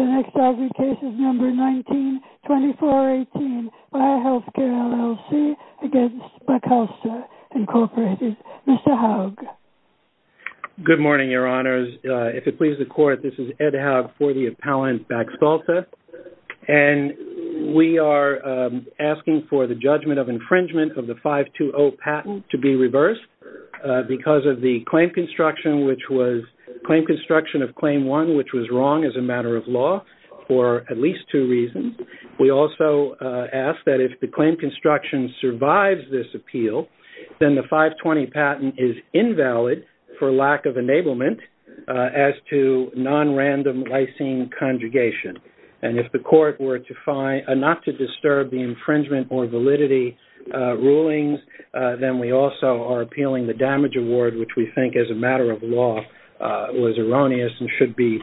Good morning, your honors. If it pleases the court, this is Ed Haug for the appellant Baxalta, and we are asking for the judgment of infringement of the 520 patent to be reversed because of for at least two reasons. We also ask that if the claim construction survives this appeal, then the 520 patent is invalid for lack of enablement as to non-random licensing conjugation. And if the court were to find enough to disturb the infringement or validity rulings, then we also are appealing the damage award, which we think as a matter of law was erroneous and should be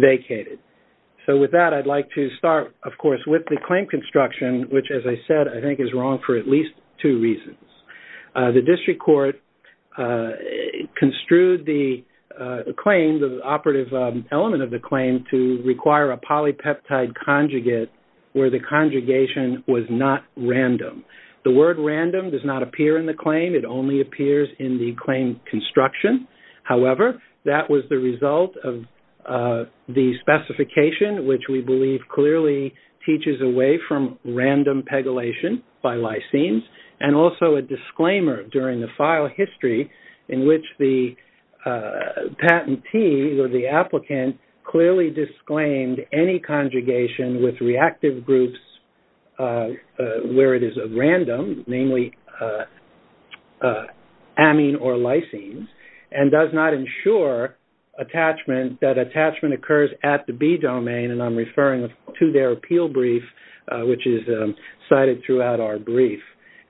vacated. So with that, I'd like to start, of course, with the claim construction, which as I said, I think is wrong for at least two reasons. The district court construed the claim, the operative element of the claim to require a polypeptide conjugate where the conjugation was not random. The word random does not appear in the claim. It only appears in the claim construction. However, that was the result of the specification, which we believe clearly teaches away from random pegulation by lysines and also a disclaimer during the file history in which the patentee or the applicant clearly disclaimed any conjugation with reactive groups where it is a random, namely amine or lysines, and does not ensure that attachment occurs at the B domain. And I'm referring to their appeal brief, which is cited throughout our brief.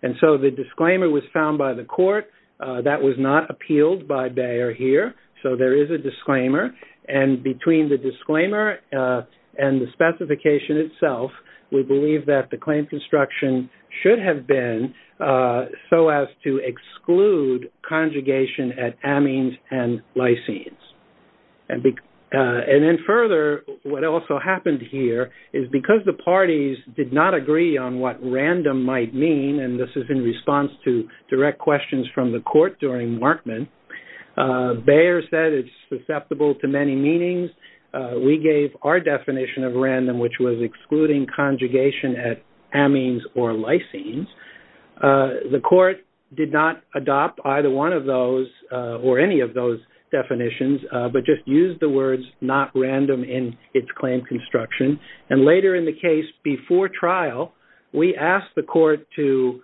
And so the disclaimer was found by the court. That was not appealed by Bayer here. So there is a disclaimer. And between the disclaimer and the specification itself, we believe that the claim construction should have been so as to exclude conjugation at amines and lysines. And then further, what also happened here is because the parties did not agree on what random might mean, and this is in response to direct questions from the court during Markman, Bayer said it's susceptible to many meanings. We gave our definition of random, which was excluding conjugation at amines or lysines. The court did not adopt either one of those or any of those definitions, but just used the words not random in its claim construction. And later in the case, before trial, we asked the court to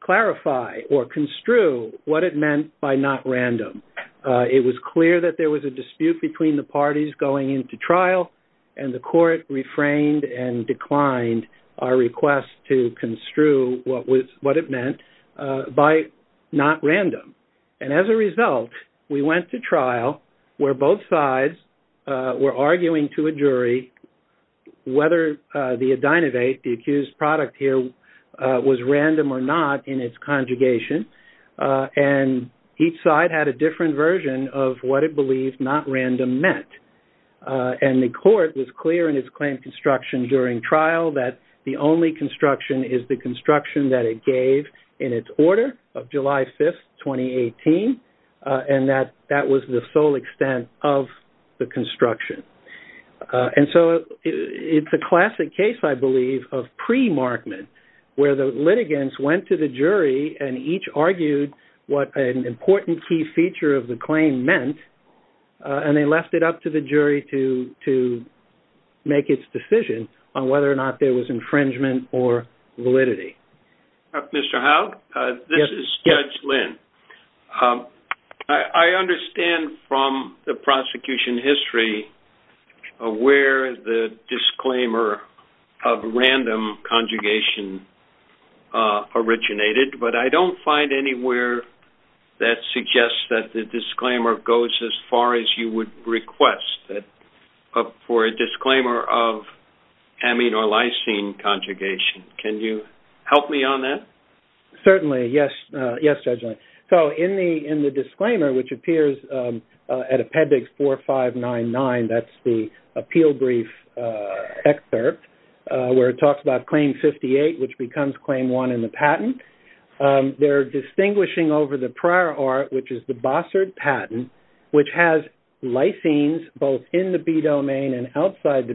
clarify or construe what it meant by not random. It was clear that there was a dispute between the parties going into trial, and the court refrained and declined our request to construe what it meant by not random. And as a result, we went to trial where both sides were arguing to a jury whether the adinovate, the accused product here, was random or not in its conjugation. And each side had a different version of what it believed not random meant. And the court was clear in its claim construction during trial that the only construction is the construction that it gave in its order of July 5, 2018, and that that was the sole extent of the construction. And so it's a classic case, I believe, of pre-Markman, where the litigants went to the jury and each argued what an important key feature of the claim meant, and they left it up to the jury to make its decision on whether or not there was infringement or validity. Mr. Howe, this is Judge Lynn. I understand from the prosecution history where the disclaimer of random conjugation originated, but I don't find anywhere that suggests that the disclaimer goes as far as you would request that for a disclaimer of lysine conjugation. Can you help me on that? Certainly. Yes, Judge Lynn. So in the disclaimer, which appears at Appendix 4599, that's the appeal brief excerpt where it talks about Claim 58, which becomes Claim 1 in the patent, they're distinguishing over the prior art, which is the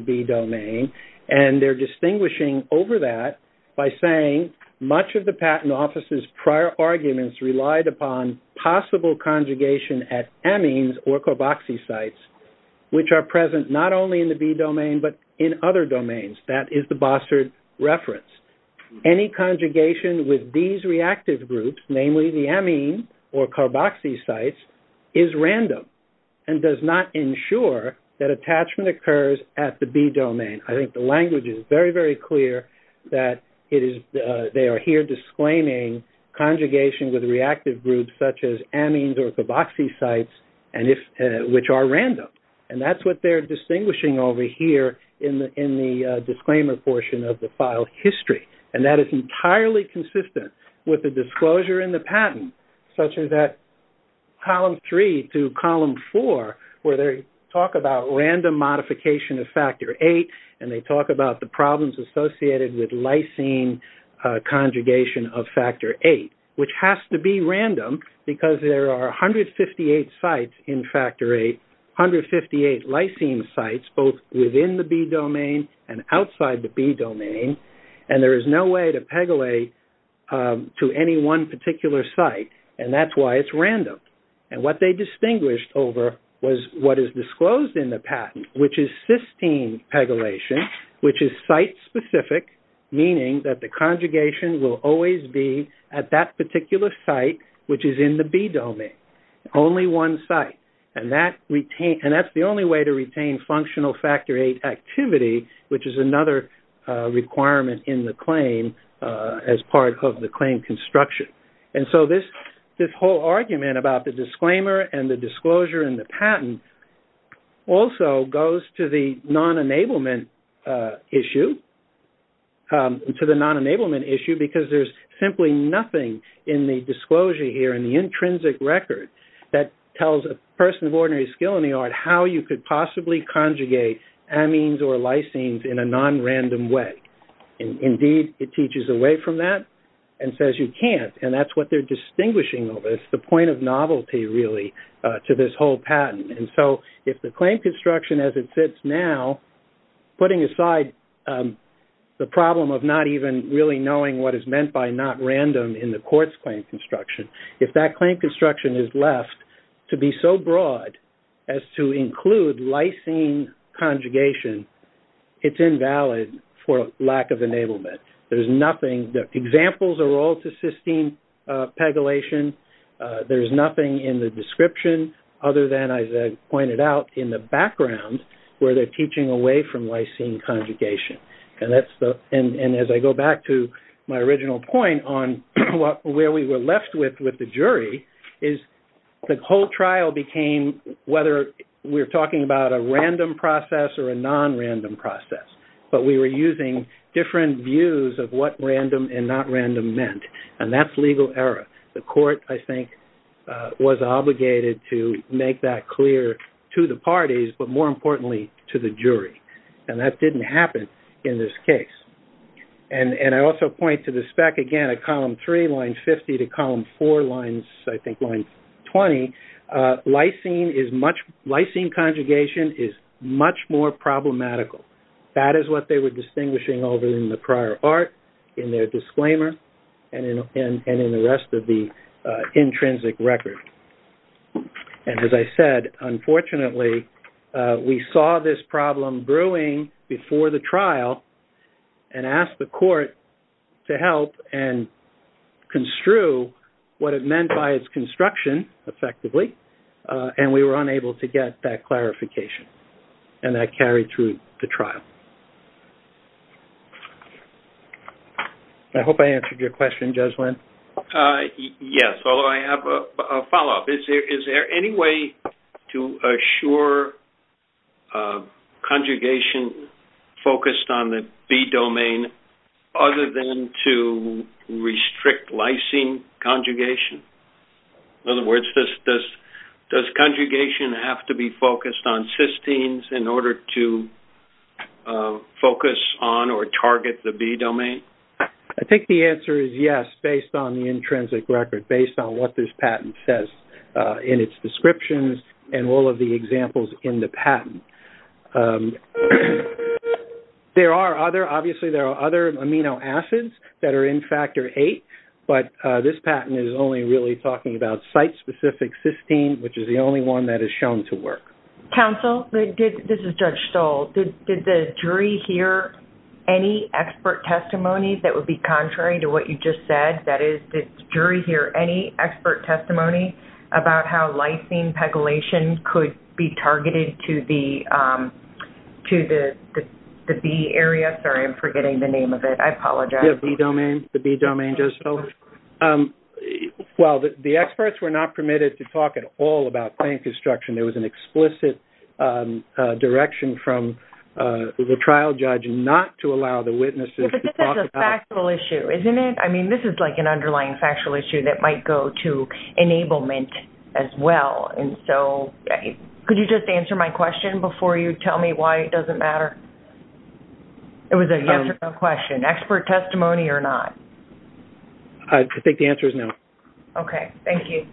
B-domain, and they're distinguishing over that by saying much of the Patent Office's prior arguments relied upon possible conjugation at amines or carboxy sites, which are present not only in the B-domain, but in other domains. That is the Bossert reference. Any conjugation with these reactive groups, namely the amine or carboxy sites, is random and does not ensure that it is very, very clear that they are here disclaiming conjugation with reactive groups such as amines or carboxy sites, which are random. And that's what they're distinguishing over here in the disclaimer portion of the file history. And that is entirely consistent with the disclosure in the patent, such as at Column 3 to Column 4, where they talk about random modification of problems associated with lysine conjugation of Factor VIII, which has to be random because there are 158 sites in Factor VIII, 158 lysine sites, both within the B-domain and outside the B-domain, and there is no way to pegolate to any one particular site, and that's why it's random. And what they distinguished over was what is disclosed in the patent, which is cysteine pegolation, which is site-specific, meaning that the conjugation will always be at that particular site, which is in the B-domain, only one site. And that's the only way to retain functional Factor VIII activity, which is another requirement in the claim as part of the claim construction. And so this whole argument about the disclaimer and the disclosure in the patent also goes to the non-enablement issue, to the non-enablement issue, because there's simply nothing in the disclosure here in the intrinsic record that tells a person of ordinary skill in the art how you could possibly conjugate amines or lysines in a non-random way. Indeed, it teaches away from that and says you can't, and that's what they're distinguishing over. It's the point of novelty, really, to this whole patent. And so if the claim construction as it sits now, putting aside the problem of not even really knowing what is meant by not random in the court's claim construction, if that claim construction is left to be so broad as to include lysine conjugation, it's invalid for lack of enablement. There's nothing, the examples are all to cysteine pegylation. There's nothing in the description other than as I pointed out in the background where they're teaching away from lysine conjugation. And as I go back to my original point on where we were left with with the jury is the whole trial became whether we're talking about a random process or a non-random process, but we were using different views of what random and not random meant. And that's legal error. The court, I think, was obligated to make that clear to the parties, but more importantly to the jury. And that didn't happen in this case. And I also point to the spec again at column three, line 50, to column four, lines, I think, line 20, lysine is much, lysine conjugation is much more problematical. That is what they were distinguishing over in the prior art, in their disclaimer, and in the rest of the intrinsic record. And as I said, unfortunately, we saw this problem brewing before the trial and asked the court to help and construe what it meant by its construction effectively. And we were unable to get that clarification. And that carried through the trial. I hope I answered your question, Jeswin. Yes, although I have a follow-up. Is there any way to assure conjugation focused on the B domain other than to restrict lysine conjugation? In other words, does conjugation have to be focused on cysteines in order to focus on or target the B domain? I think the answer is yes, based on the intrinsic record, based on what this patent says in its descriptions and all of the examples in the patent. There are other-obviously there are other amino acids that are in factor VIII, but this patent is only really talking about site-specific cysteine, which is the only one that is shown to work. Counsel, this is Judge Stoll. Did the jury hear any expert testimony that would be contrary to what you just said? That is, did the jury hear any expert testimony about how lysine pegylation could be targeted to the B area? Sorry, I'm forgetting the name of it. I apologize. B domain? The B domain, Judge Stoll? Well, the experts were not permitted to talk at all about pain construction. There was an explicit direction from the trial judge not to allow the witnesses to talk about- But this is a factual issue, isn't it? I mean, this is like an underlying factual issue that might go to enablement as well. And so, could you just answer my question before you tell me why it doesn't matter? It was an answer to a question. Expert testimony or not? I think the answer is no. Okay. Thank you.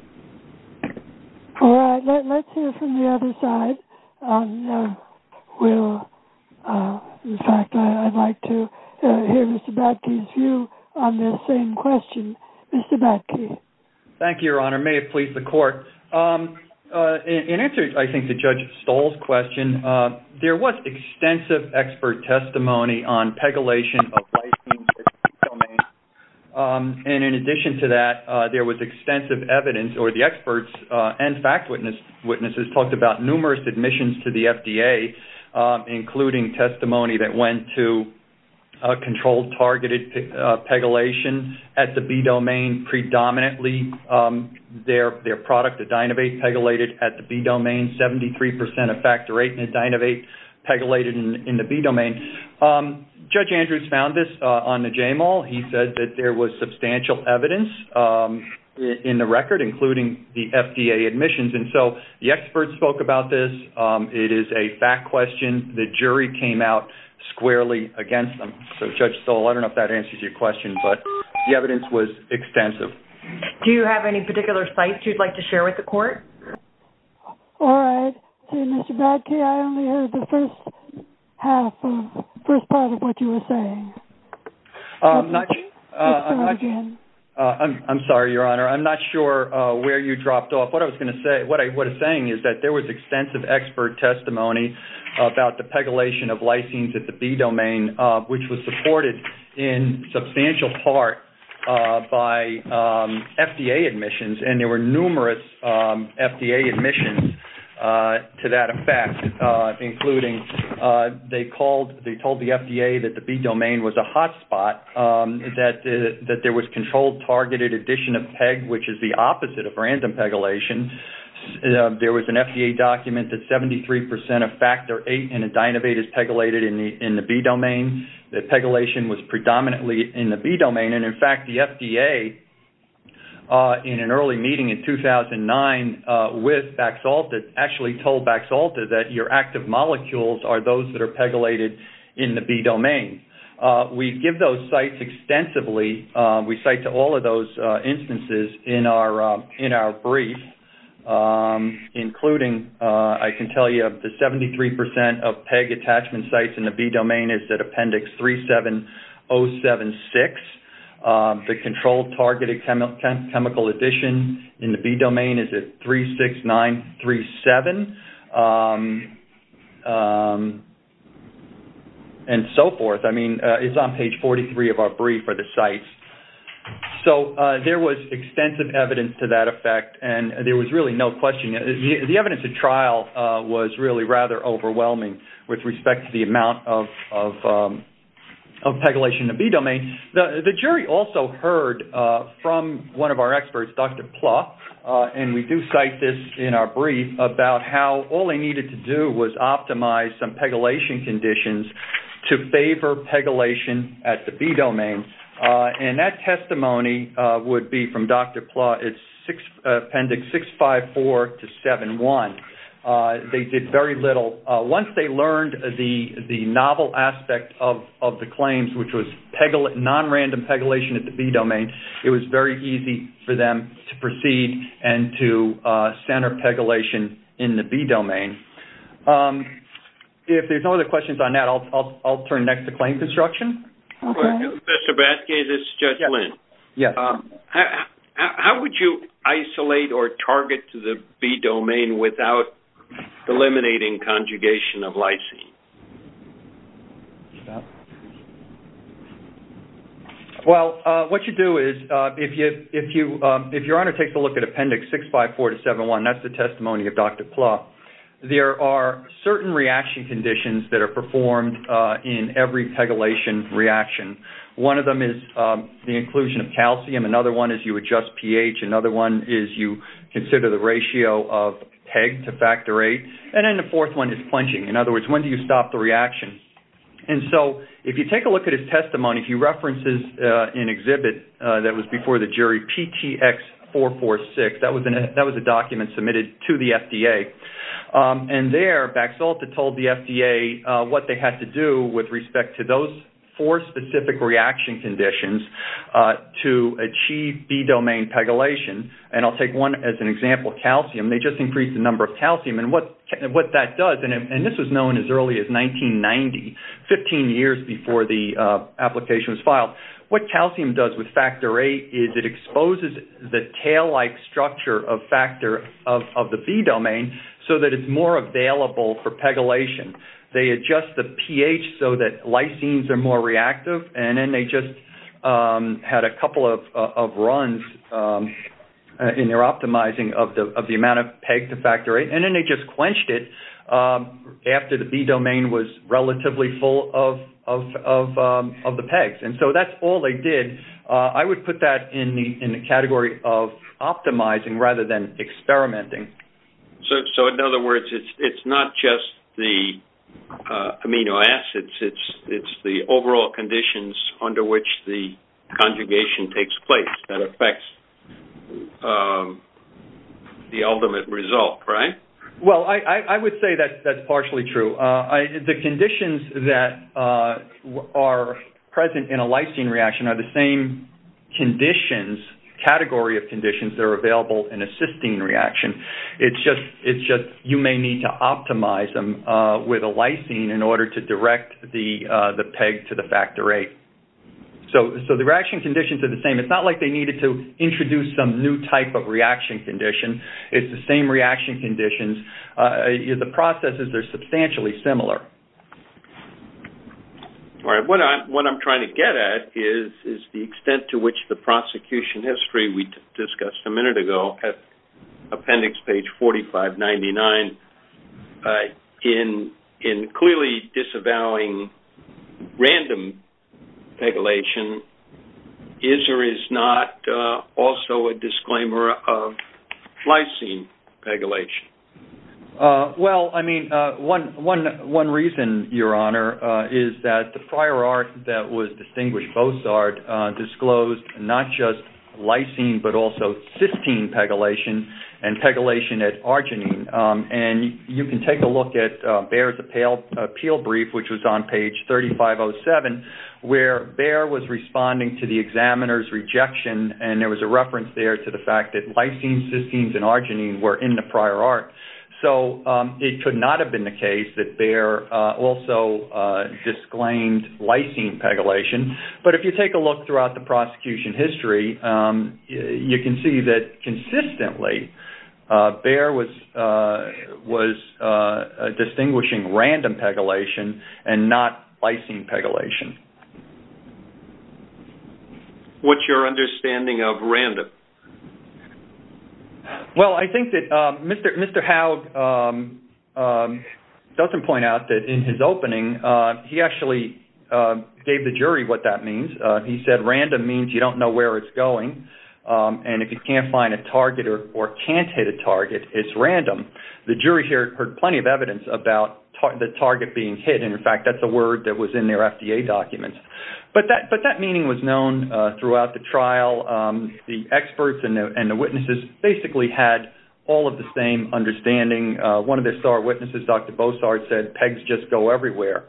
All right. Let's hear from the other side. In fact, I'd like to hear Mr. Batke's view on this same question. Mr. Batke. Thank you, Your Honor. May it please the court. In answer, I think, to Judge Stoll's question, there was extensive expert testimony on pegylation and in addition to that, there was extensive evidence or the experts and fact witnesses talked about numerous admissions to the FDA, including testimony that went to controlled targeted pegylation at the B-domain. Predominantly, their product, the Dynovate, pegylated at the B-domain, 73% of factor VIII and Dynovate pegylated in the B-domain. Judge Andrews found this on the J-mall. He said that there was substantial evidence in the record, including the FDA admissions. And so, the experts spoke about this. It is a question. The jury came out squarely against them. So, Judge Stoll, I don't know if that answers your question, but the evidence was extensive. Do you have any particular sites you'd like to share with the court? All right. Mr. Batke, I only heard the first half, first part of what you were saying. I'm sorry, Your Honor. I'm not sure where you dropped off. What I was saying is that there was extensive expert testimony about the pegylation of lysines at the B-domain, which was supported in substantial part by FDA admissions. And there were numerous FDA admissions to that effect, including they told the FDA that the B-domain was a hotspot, that there was controlled targeted addition of PEG, which is the opposite of random pegylation. There was an FDA document that 73 percent of factor VIII and adenovate is pegylated in the B-domain, that pegylation was predominantly in the B-domain. And, in fact, the FDA, in an early meeting in 2009 with Baxalta, actually told Baxalta that your active molecules are those that are pegylated in the B-domain. We give those sites extensively. We cite to all of instances in our brief, including, I can tell you, the 73 percent of PEG attachment sites in the B-domain is at Appendix 37076. The controlled targeted chemical addition in the B-domain is at Appendix 37076. So, there was extensive evidence to that effect, and there was really no question. The evidence at trial was really rather overwhelming with respect to the amount of pegylation in the B-domain. The jury also heard from one of our experts, Dr. Plough, and we do cite this in our brief, about how all they needed to do was optimize some pegylation conditions to favor pegylation at the B-domain. And that testimony would be from Dr. Plough at Appendix 654 to 71. They did very little. Once they learned the novel aspect of the claims, which was nonrandom pegylation at the B-domain, it was very easy for them to proceed and to center pegylation in the B-domain. If there's no other questions on that, I'll turn next to claim construction. Mr. Baskin, this is Judge Lynn. How would you isolate or target to the B-domain without eliminating conjugation of lysine? Well, what you do is, if your Honor takes a look at Appendix 654 to 71, that's the testimony of Dr. Plough, there are certain reaction conditions that are performed in every pegylation reaction. One of them is the inclusion of calcium. Another one is you adjust pH. Another one is you consider the ratio of peg to factor VIII. And then the fourth one is plunging. In other words, when do you stop the reaction? And so, if you take a look at his testimony, he references an exhibit that was before the jury, PTX446. That was a document submitted to the FDA. And there, Baxalta told the FDA what they had to do with respect to those four specific reaction conditions to achieve B-domain pegylation. And I'll take one as an example, calcium. They just increased the number of calcium. And what that does, and this was known as early as 1990, 15 years before the application was filed. What calcium does with factor VIII is it exposes the tail-like structure of the B-domain so that it's more available for pegylation. They adjust the pH so that lysines are more reactive. And then they just had a couple of runs in their optimizing of the amount of peg to factor VIII. And then they just quenched it after the B-domain was relatively full of the pegs. And so, that's all they did. I would put that in the category of optimizing rather than experimenting. So, in other words, it's not just the amino acids. It's the overall conditions under which the ultimate result, right? Well, I would say that's partially true. The conditions that are present in a lysine reaction are the same conditions, category of conditions, that are available in a cysteine reaction. It's just you may need to optimize them with a lysine in order to direct the peg to the factor VIII. So, the reaction conditions are the same. It's not like they needed to introduce some new type of reaction condition. It's the same reaction conditions. The processes are substantially similar. All right. What I'm trying to get at is the extent to which the prosecution history we discussed a minute ago appendix page 4599, in clearly disavowing random pegylation, is or is not also a disclaimer of lysine pegylation? Well, I mean, one reason, Your Honor, is that the prior art that was and pegylation at arginine. And you can take a look at Baer's appeal brief, which was on page 3507, where Baer was responding to the examiner's rejection. And there was a reference there to the fact that lysine, cysteines, and arginine were in the prior art. So, it could not have been the case that Baer also disclaimed lysine pegylation. But if you take a look throughout the prosecution history, you can see that consistently Baer was distinguishing random pegylation and not lysine pegylation. What's your understanding of random? Well, I think that Mr. Howe doesn't point out that in his opening, he actually gave the jury what that means. He said random means you don't know where it's going. And if you can't find a target or can't hit a target, it's random. The jury here heard plenty of evidence about the target being hit. And in fact, that's a word that was in their FDA documents. But that meaning was known throughout the trial. The experts and the witnesses basically had all of the same understanding. One of their star witnesses, Dr. Bossard, said pegs just go everywhere.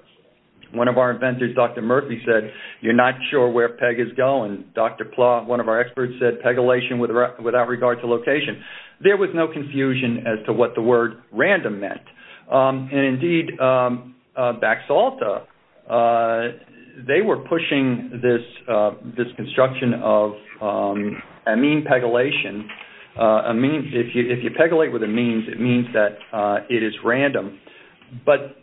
One of our inventors, Dr. Murphy, said you're not sure where peg is going. Dr. Pla, one of our experts said pegylation without regard to location. There was no confusion as to what the word random meant. And indeed, Baxalta, they were pushing this construction of amine pegylation. If you pegylate with amines, it means that it is random. But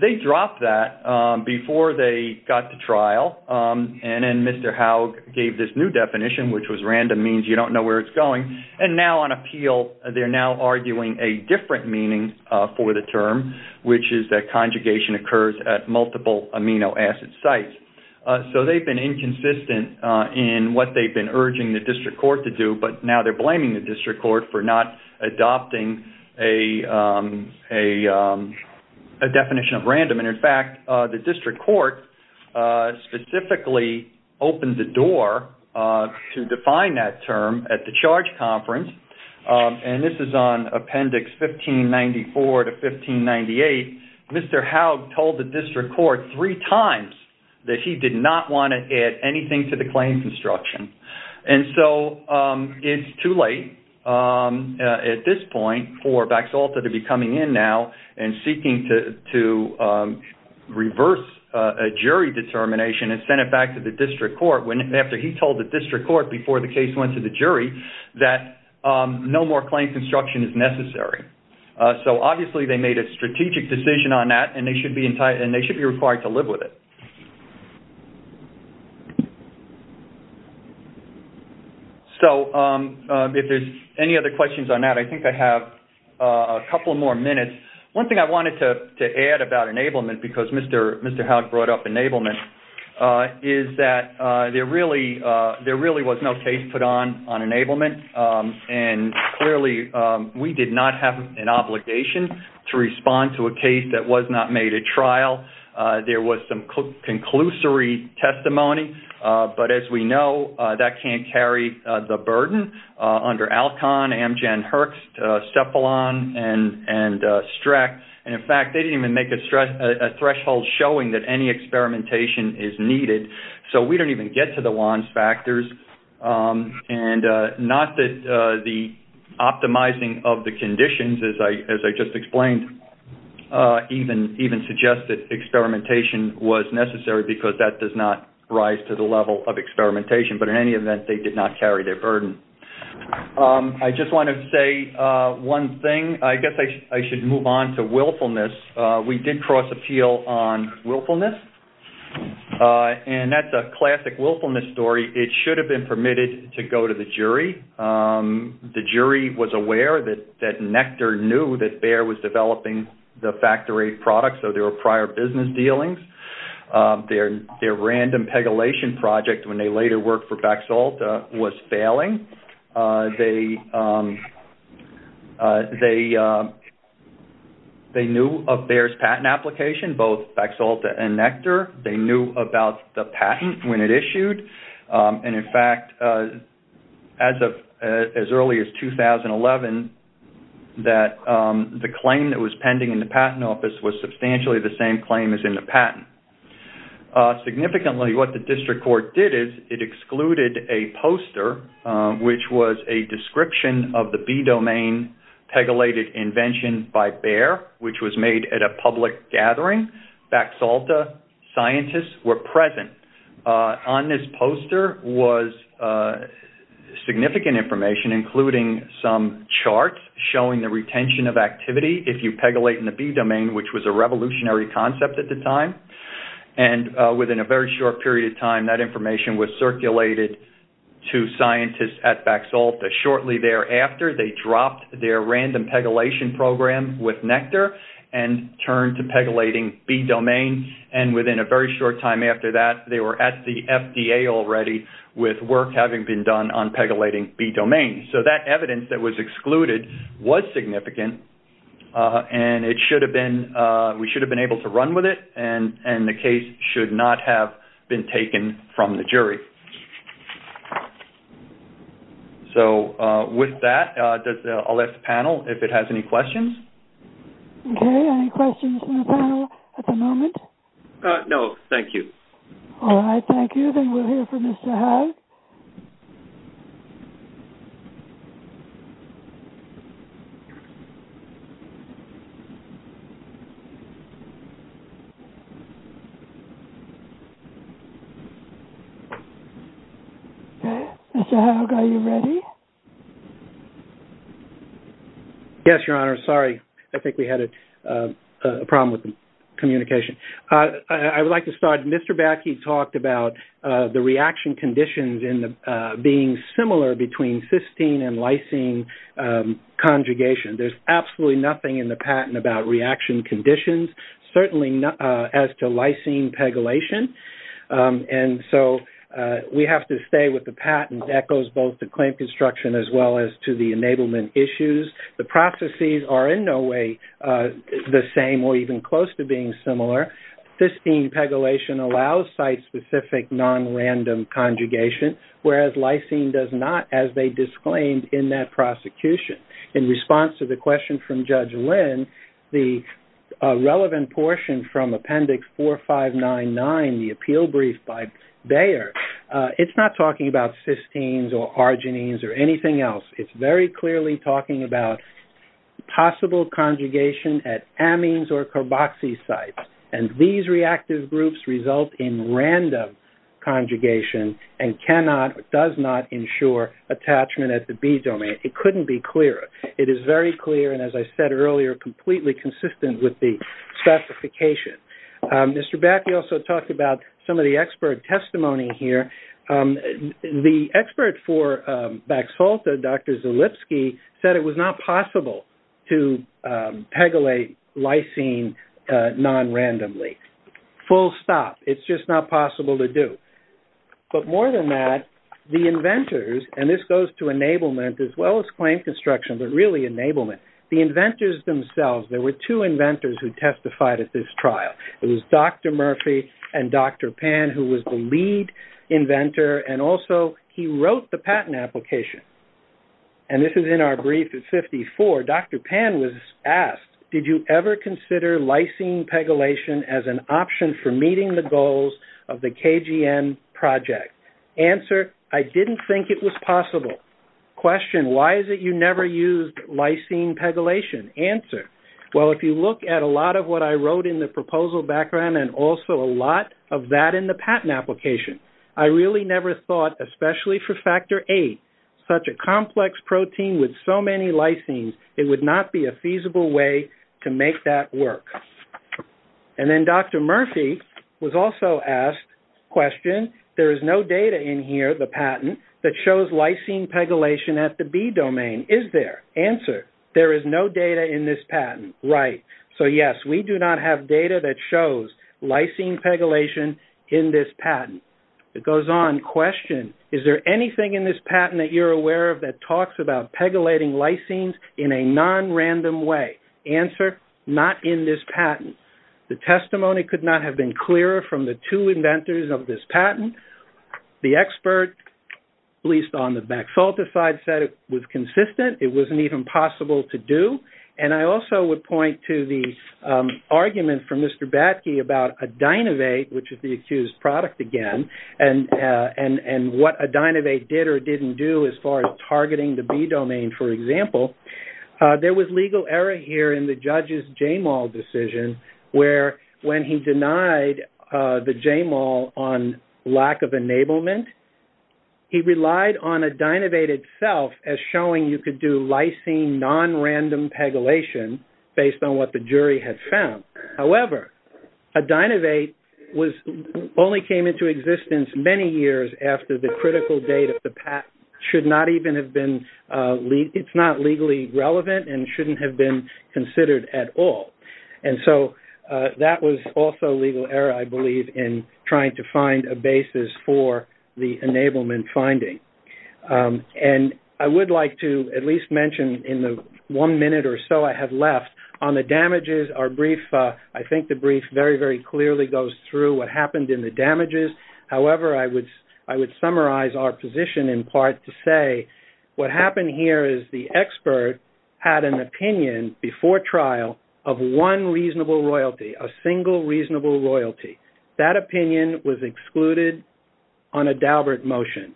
they dropped that before they got to trial. And then Mr. Howe gave this new definition, which was random means you don't know where it's going. And now on appeal, they're now arguing a different meaning for the term, which is that conjugation occurs at multiple amino acid sites. So they've been inconsistent in what they've been urging the district court to do, but now they're blaming the district court for not adopting a definition of random. And in fact, the district court specifically opened the door to define that term at the charge conference. And this is on appendix 1594 to 1598. Mr. Howe told the district court three times that he did not want to add anything to the claim construction. And so it's too late at this point for Baxalta to be coming in now and seeking to reverse a jury determination and send it back to the district court after he told the district court before the case went to the jury that no more claim construction is necessary. So obviously they made a strategic decision on that and they should be required to live with it. So if there's any other questions on that, I think I have a couple more minutes. One thing I wanted to add about enablement, because Mr. Howe brought up enablement, is that there really was no case put on on enablement. And clearly we did not have an obligation to respond to a case that was not made at trial. There was some conclusory testimony. But as we know, that can't carry the burden under Alcon, Amgen, Herx, Cephalon, and Streck. And in fact, they didn't even make a threshold showing that any experimentation is needed. So we don't even get to the WANS factors. And not that the optimizing of the conditions, as I just explained, even suggested experimentation was necessary because that does not rise to the level of experimentation. But in any event, they did not carry their burden. I just want to say one thing. I guess I should move on to willfulness. We did cross appeal on willfulness. And that's a classic willfulness story. It should have been permitted to go to the jury. The jury was aware that Nectar knew that Bayer was developing the Factor VIII product, so there were prior business dealings. Their random pegylation project when they later worked for Bexalta was failing. They knew of Bayer's patent application, both Bexalta and Nectar. They knew about the patent when it issued. And in fact, as early as 2011, the claim that was pending in the patent office was substantially the same claim as in the patent. Significantly, what the district court did is it excluded a poster, which was a description of the B-domain pegylated invention by Bayer, which was made at a public gathering. Bexalta scientists were present. On this poster was significant information, including some charts showing the retention of activity if you pegylate in the B-domain, which was a revolutionary concept at the time. And within a very short period of time, that information was circulated to scientists at Bexalta. Shortly thereafter, they dropped their random pegylation program with Nectar and turned to pegylating B-domain. And within a very short time after that, they were at the FDA already with work having been done on pegylating B-domain. So that evidence that was excluded was significant, and we should have been able to run with it, and the case should not have been taken from the jury. So, with that, I'll let the panel, if it has any questions. Okay, any questions from the panel at the moment? No, thank you. All right, thank you. Then we'll hear from Mr. Howe. Okay, Mr. Howe, are you ready? Yes, Your Honor. Sorry, I think we had a problem with the communication. I would like to start. Mr. Batke talked about the reaction conditions being similar between cysteine and lysine conjugation. There's absolutely nothing in the patent about reaction conditions, certainly not as to lysine pegylation. And so, we have to stay with the patent. That goes both to claim construction as well as to the enablement issues. The processes are in no way the same or even close to being similar. Cysteine pegylation allows site-specific non-random conjugation, whereas lysine does not, as they disclaimed in that prosecution. In response to the question from Judge Lynn, the relevant portion from Appendix 4599, the appeal brief by Bayer, it's not talking about cysteines or arginines or anything else. It's very clearly talking about possible conjugation at amines or carboxy sites. And these reactive groups result in random conjugation and cannot or does not ensure attachment at the B-domain. It couldn't be clearer. It is very clear and, as I said earlier, completely consistent with the specification. Mr. Batke also talked about some of the expert testimony here. The expert for Baxhalta, Dr. Zalipsky, said it was not possible to pegylate lysine non-randomly. Full stop. It's just not possible to do. But more than that, the inventors, and this goes to enablement as well as claim construction, but really enablement, the inventors themselves, there were two inventors who testified at this trial. It was Dr. Murphy and Dr. Pan, who was the lead inventor, and also he wrote the patent application. And this is in our brief at 54. Dr. Pan was asked, did you ever consider lysine pegylation as an option for meeting the goals of the KGM project? Answer, I didn't think it was possible. Question, why is it you never used lysine pegylation? Answer, well, if you look at a lot of what I wrote in the proposal background and also a lot of that in the patent application, I really never thought, especially for factor VIII, such a complex protein with so many lysines, it would not be a feasible way to make that work. And then Dr. Murphy was also asked, question, there is no data in here, the patent, that shows lysine pegylation at the B domain. Is there? Answer, there is no data in this patent. Right. So yes, we do not have data that shows lysine pegylation in this patent. It goes on, question, is there anything in this patent that you're aware of that talks about pegylating lysines in a non-random way? Answer, not in this patent. The testimony could not have been clearer from the two inventors of this patent. The expert, at least on the Max Salta side, said it was consistent. It wasn't even possible to do. And I also would point to the argument from Mr. Batke about Adinovate, which is the accused product again, and what Adinovate did or didn't do as far as targeting the B domain, for example. There was legal error here in the judge's Jmol decision, where when he denied the Jmol on lack of enablement, he relied on Adinovate itself as showing you could do lysine non-random pegylation based on what the jury had found. However, Adinovate only came into existence many years after the critical date of the patent. It's not legally relevant and shouldn't have been considered at all. And so that was also legal error, I believe, in trying to find a basis for the enablement finding. And I would like to at least mention in the one minute or so I have left on the damages, our brief, I think the brief very, very clearly goes through what happened in the damages. However, I would summarize our position in part to say what happened here is the expert had an opinion before trial of one reasonable royalty, a single reasonable royalty. That opinion was excluded on a Daubert motion.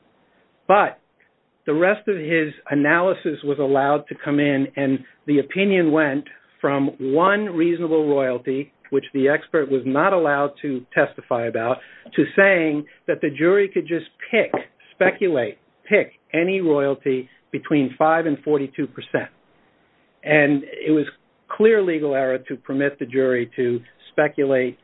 But the rest of his analysis was allowed to come in. And the opinion went from one reasonable royalty, which the expert was not allowed to testify about, to saying that the jury could just pick, speculate, pick any royalty between five and 42%. And it was clear legal error to permit the jury to speculate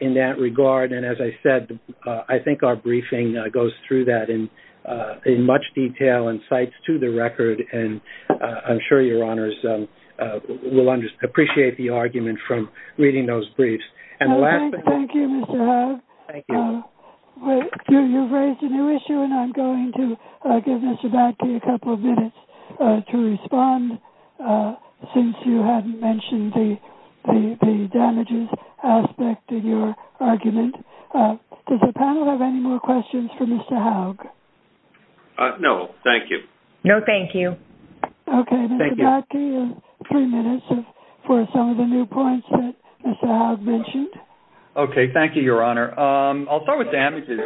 in that regard. And as I said, I think our briefing goes through that in much detail and cites to the record and I'm sure your honors will appreciate the argument from reading those briefs. Thank you, Mr. Haug. You've raised a new issue and I'm going to give Mr. Bakke a couple of minutes to respond since you hadn't mentioned the damages aspect in your argument. Does the panel have any more questions for Mr. Haug? No, thank you. No, thank you. Okay, Mr. Bakke, three minutes for some of the new points that Mr. Haug mentioned. Okay, thank you, your honor. I'll start with damages.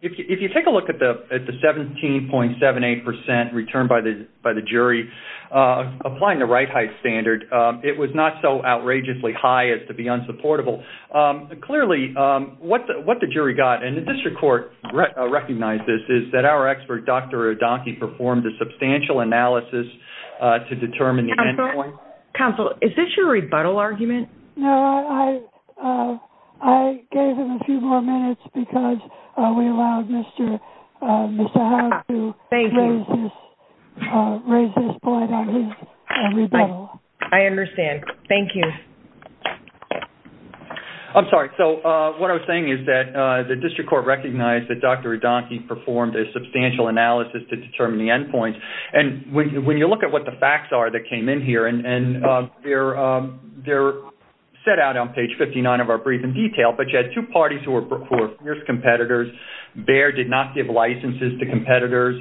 If you take a look at the 17.78% returned by the jury, applying the right height standard, it was not so outrageously high as to be unsupportable. Clearly, what the jury got, and the district court recognized this, is that our expert, Dr. O'Donkey, performed a substantial analysis to determine the end point. Counsel, is this your rebuttal argument? No, I gave him a few more minutes because we allowed Mr. Haug to raise his point on his rebuttal. I understand. Thank you. I'm sorry. So, what I was saying is that the district court recognized that Dr. O'Donkey performed a substantial analysis to determine the end point. And when you look at what the facts are that came in here, and they're set out on page 59 of our brief in detail, but you had two parties who were fierce competitors. Bayer did not give licenses to competitors.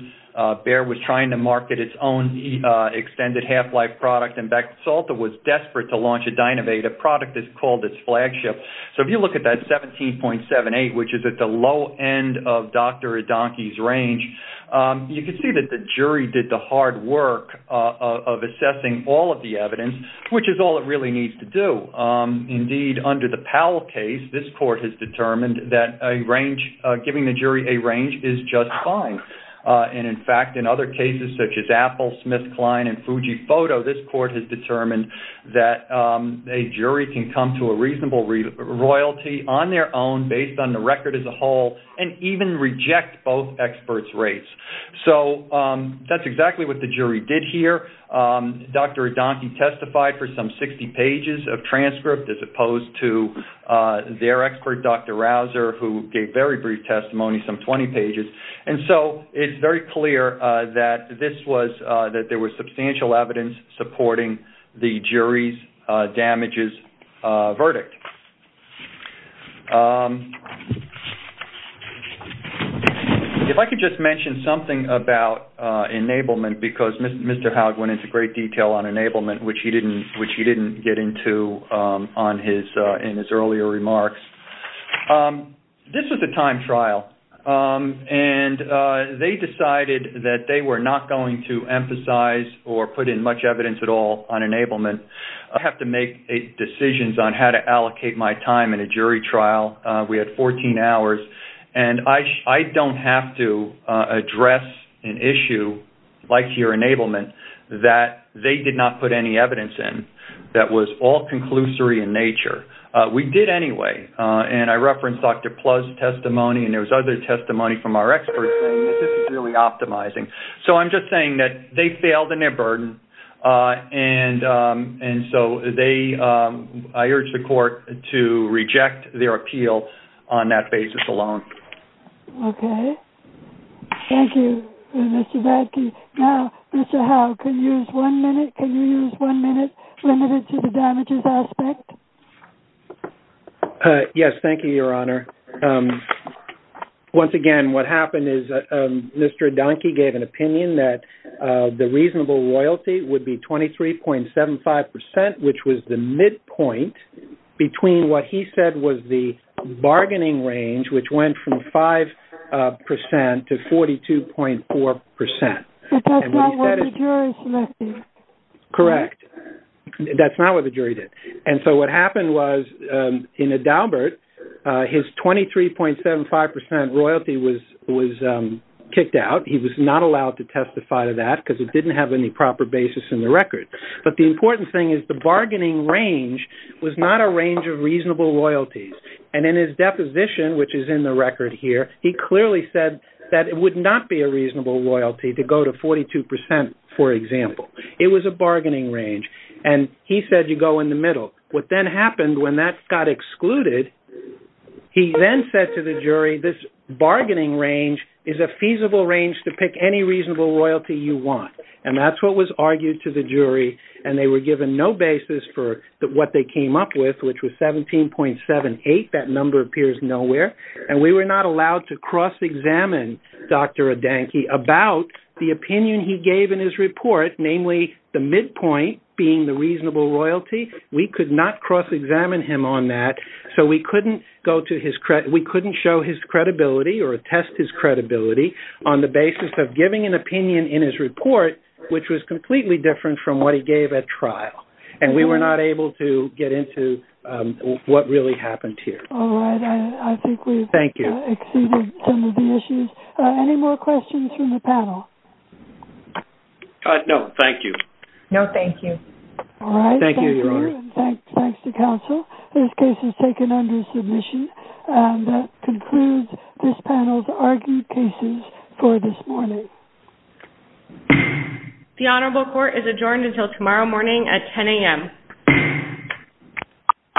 Bayer was trying to market its own extended half-life product, and Beck-Salta was desperate to launch a Dynavate, a product that's called its flagship. So, if you look at that 17.78, which is at the low end of Dr. O'Donkey's range, you can see that the jury did the hard work of assessing all of the evidence, which is all it really needs to do. Indeed, under the Powell case, this court has determined that giving the jury a range is just fine. And in fact, in other cases, such as Apple, Smith, Klein, and Fujifoto, this court has determined that a jury can come to a reasonable royalty on their own, based on the record as a whole, and even reject both experts' rates. So, that's exactly what the jury did here. Dr. O'Donkey testified for some 60 pages of transcript, as opposed to their expert, Dr. Rauser, who gave very brief testimony, some 20 pages. And so, it's very clear that there was substantial evidence supporting the jury's damages verdict. If I could just mention something about enablement, because Mr. Howe went into great detail on enablement, which he didn't get into in his earlier remarks. This was a time trial, and they decided that they were not going to put in much evidence at all on enablement. I have to make decisions on how to allocate my time in a jury trial. We had 14 hours, and I don't have to address an issue, like here, enablement, that they did not put any evidence in, that was all conclusory in nature. We did anyway, and I referenced Dr. Plough's testimony, and there was other testimony from our experts saying that they failed in their burden. And so, I urge the court to reject their appeal on that basis alone. Okay. Thank you, Mr. Badke. Now, Mr. Howe, can you use one minute, can you use one minute limited to the damages aspect? Yes. Thank you, Your Honor. Once again, what happened is Mr. Adonke gave an opinion that the reasonable royalty would be 23.75%, which was the midpoint between what he said was the bargaining range, which went from 5% to 42.4%. But that's not what the jury selected. Correct. That's not what the jury did. And so, what happened was in Adalbert, his 23.75% royalty was kicked out. He was not allowed to testify to that because it didn't have any proper basis in the record. But the important thing is the bargaining range was not a range of reasonable loyalties. And in his deposition, which is in the record here, he clearly said that it would not be a reasonable loyalty to go to 42%, for example. It was a bargaining range. And he said, you go in the middle. What then happened when that got excluded, he then said to the jury, this bargaining range is a feasible range to pick any reasonable royalty you want. And that's what was argued to the jury. And they were given no basis for what they came up with, which was 17.78. That number appears nowhere. And we were not allowed to cross-examine Dr. Adanki about the opinion he gave in his report, namely the midpoint being the reasonable royalty. We could not cross-examine him on that. So, we couldn't go to his credit. We couldn't show his credibility or test his credibility on the basis of giving an opinion in his report, which was completely different from what he gave at trial. And we were not able to get into what really happened here. All right. I think we've... Thank you. ...exceeded some of the issues. Any more questions from the panel? No, thank you. No, thank you. All right. Thank you, Your Honor. Thank you. And thanks to counsel. This case is taken under submission. And that concludes this panel's argued cases for this panel. The Honorable Court is adjourned until tomorrow morning at 10 a.m.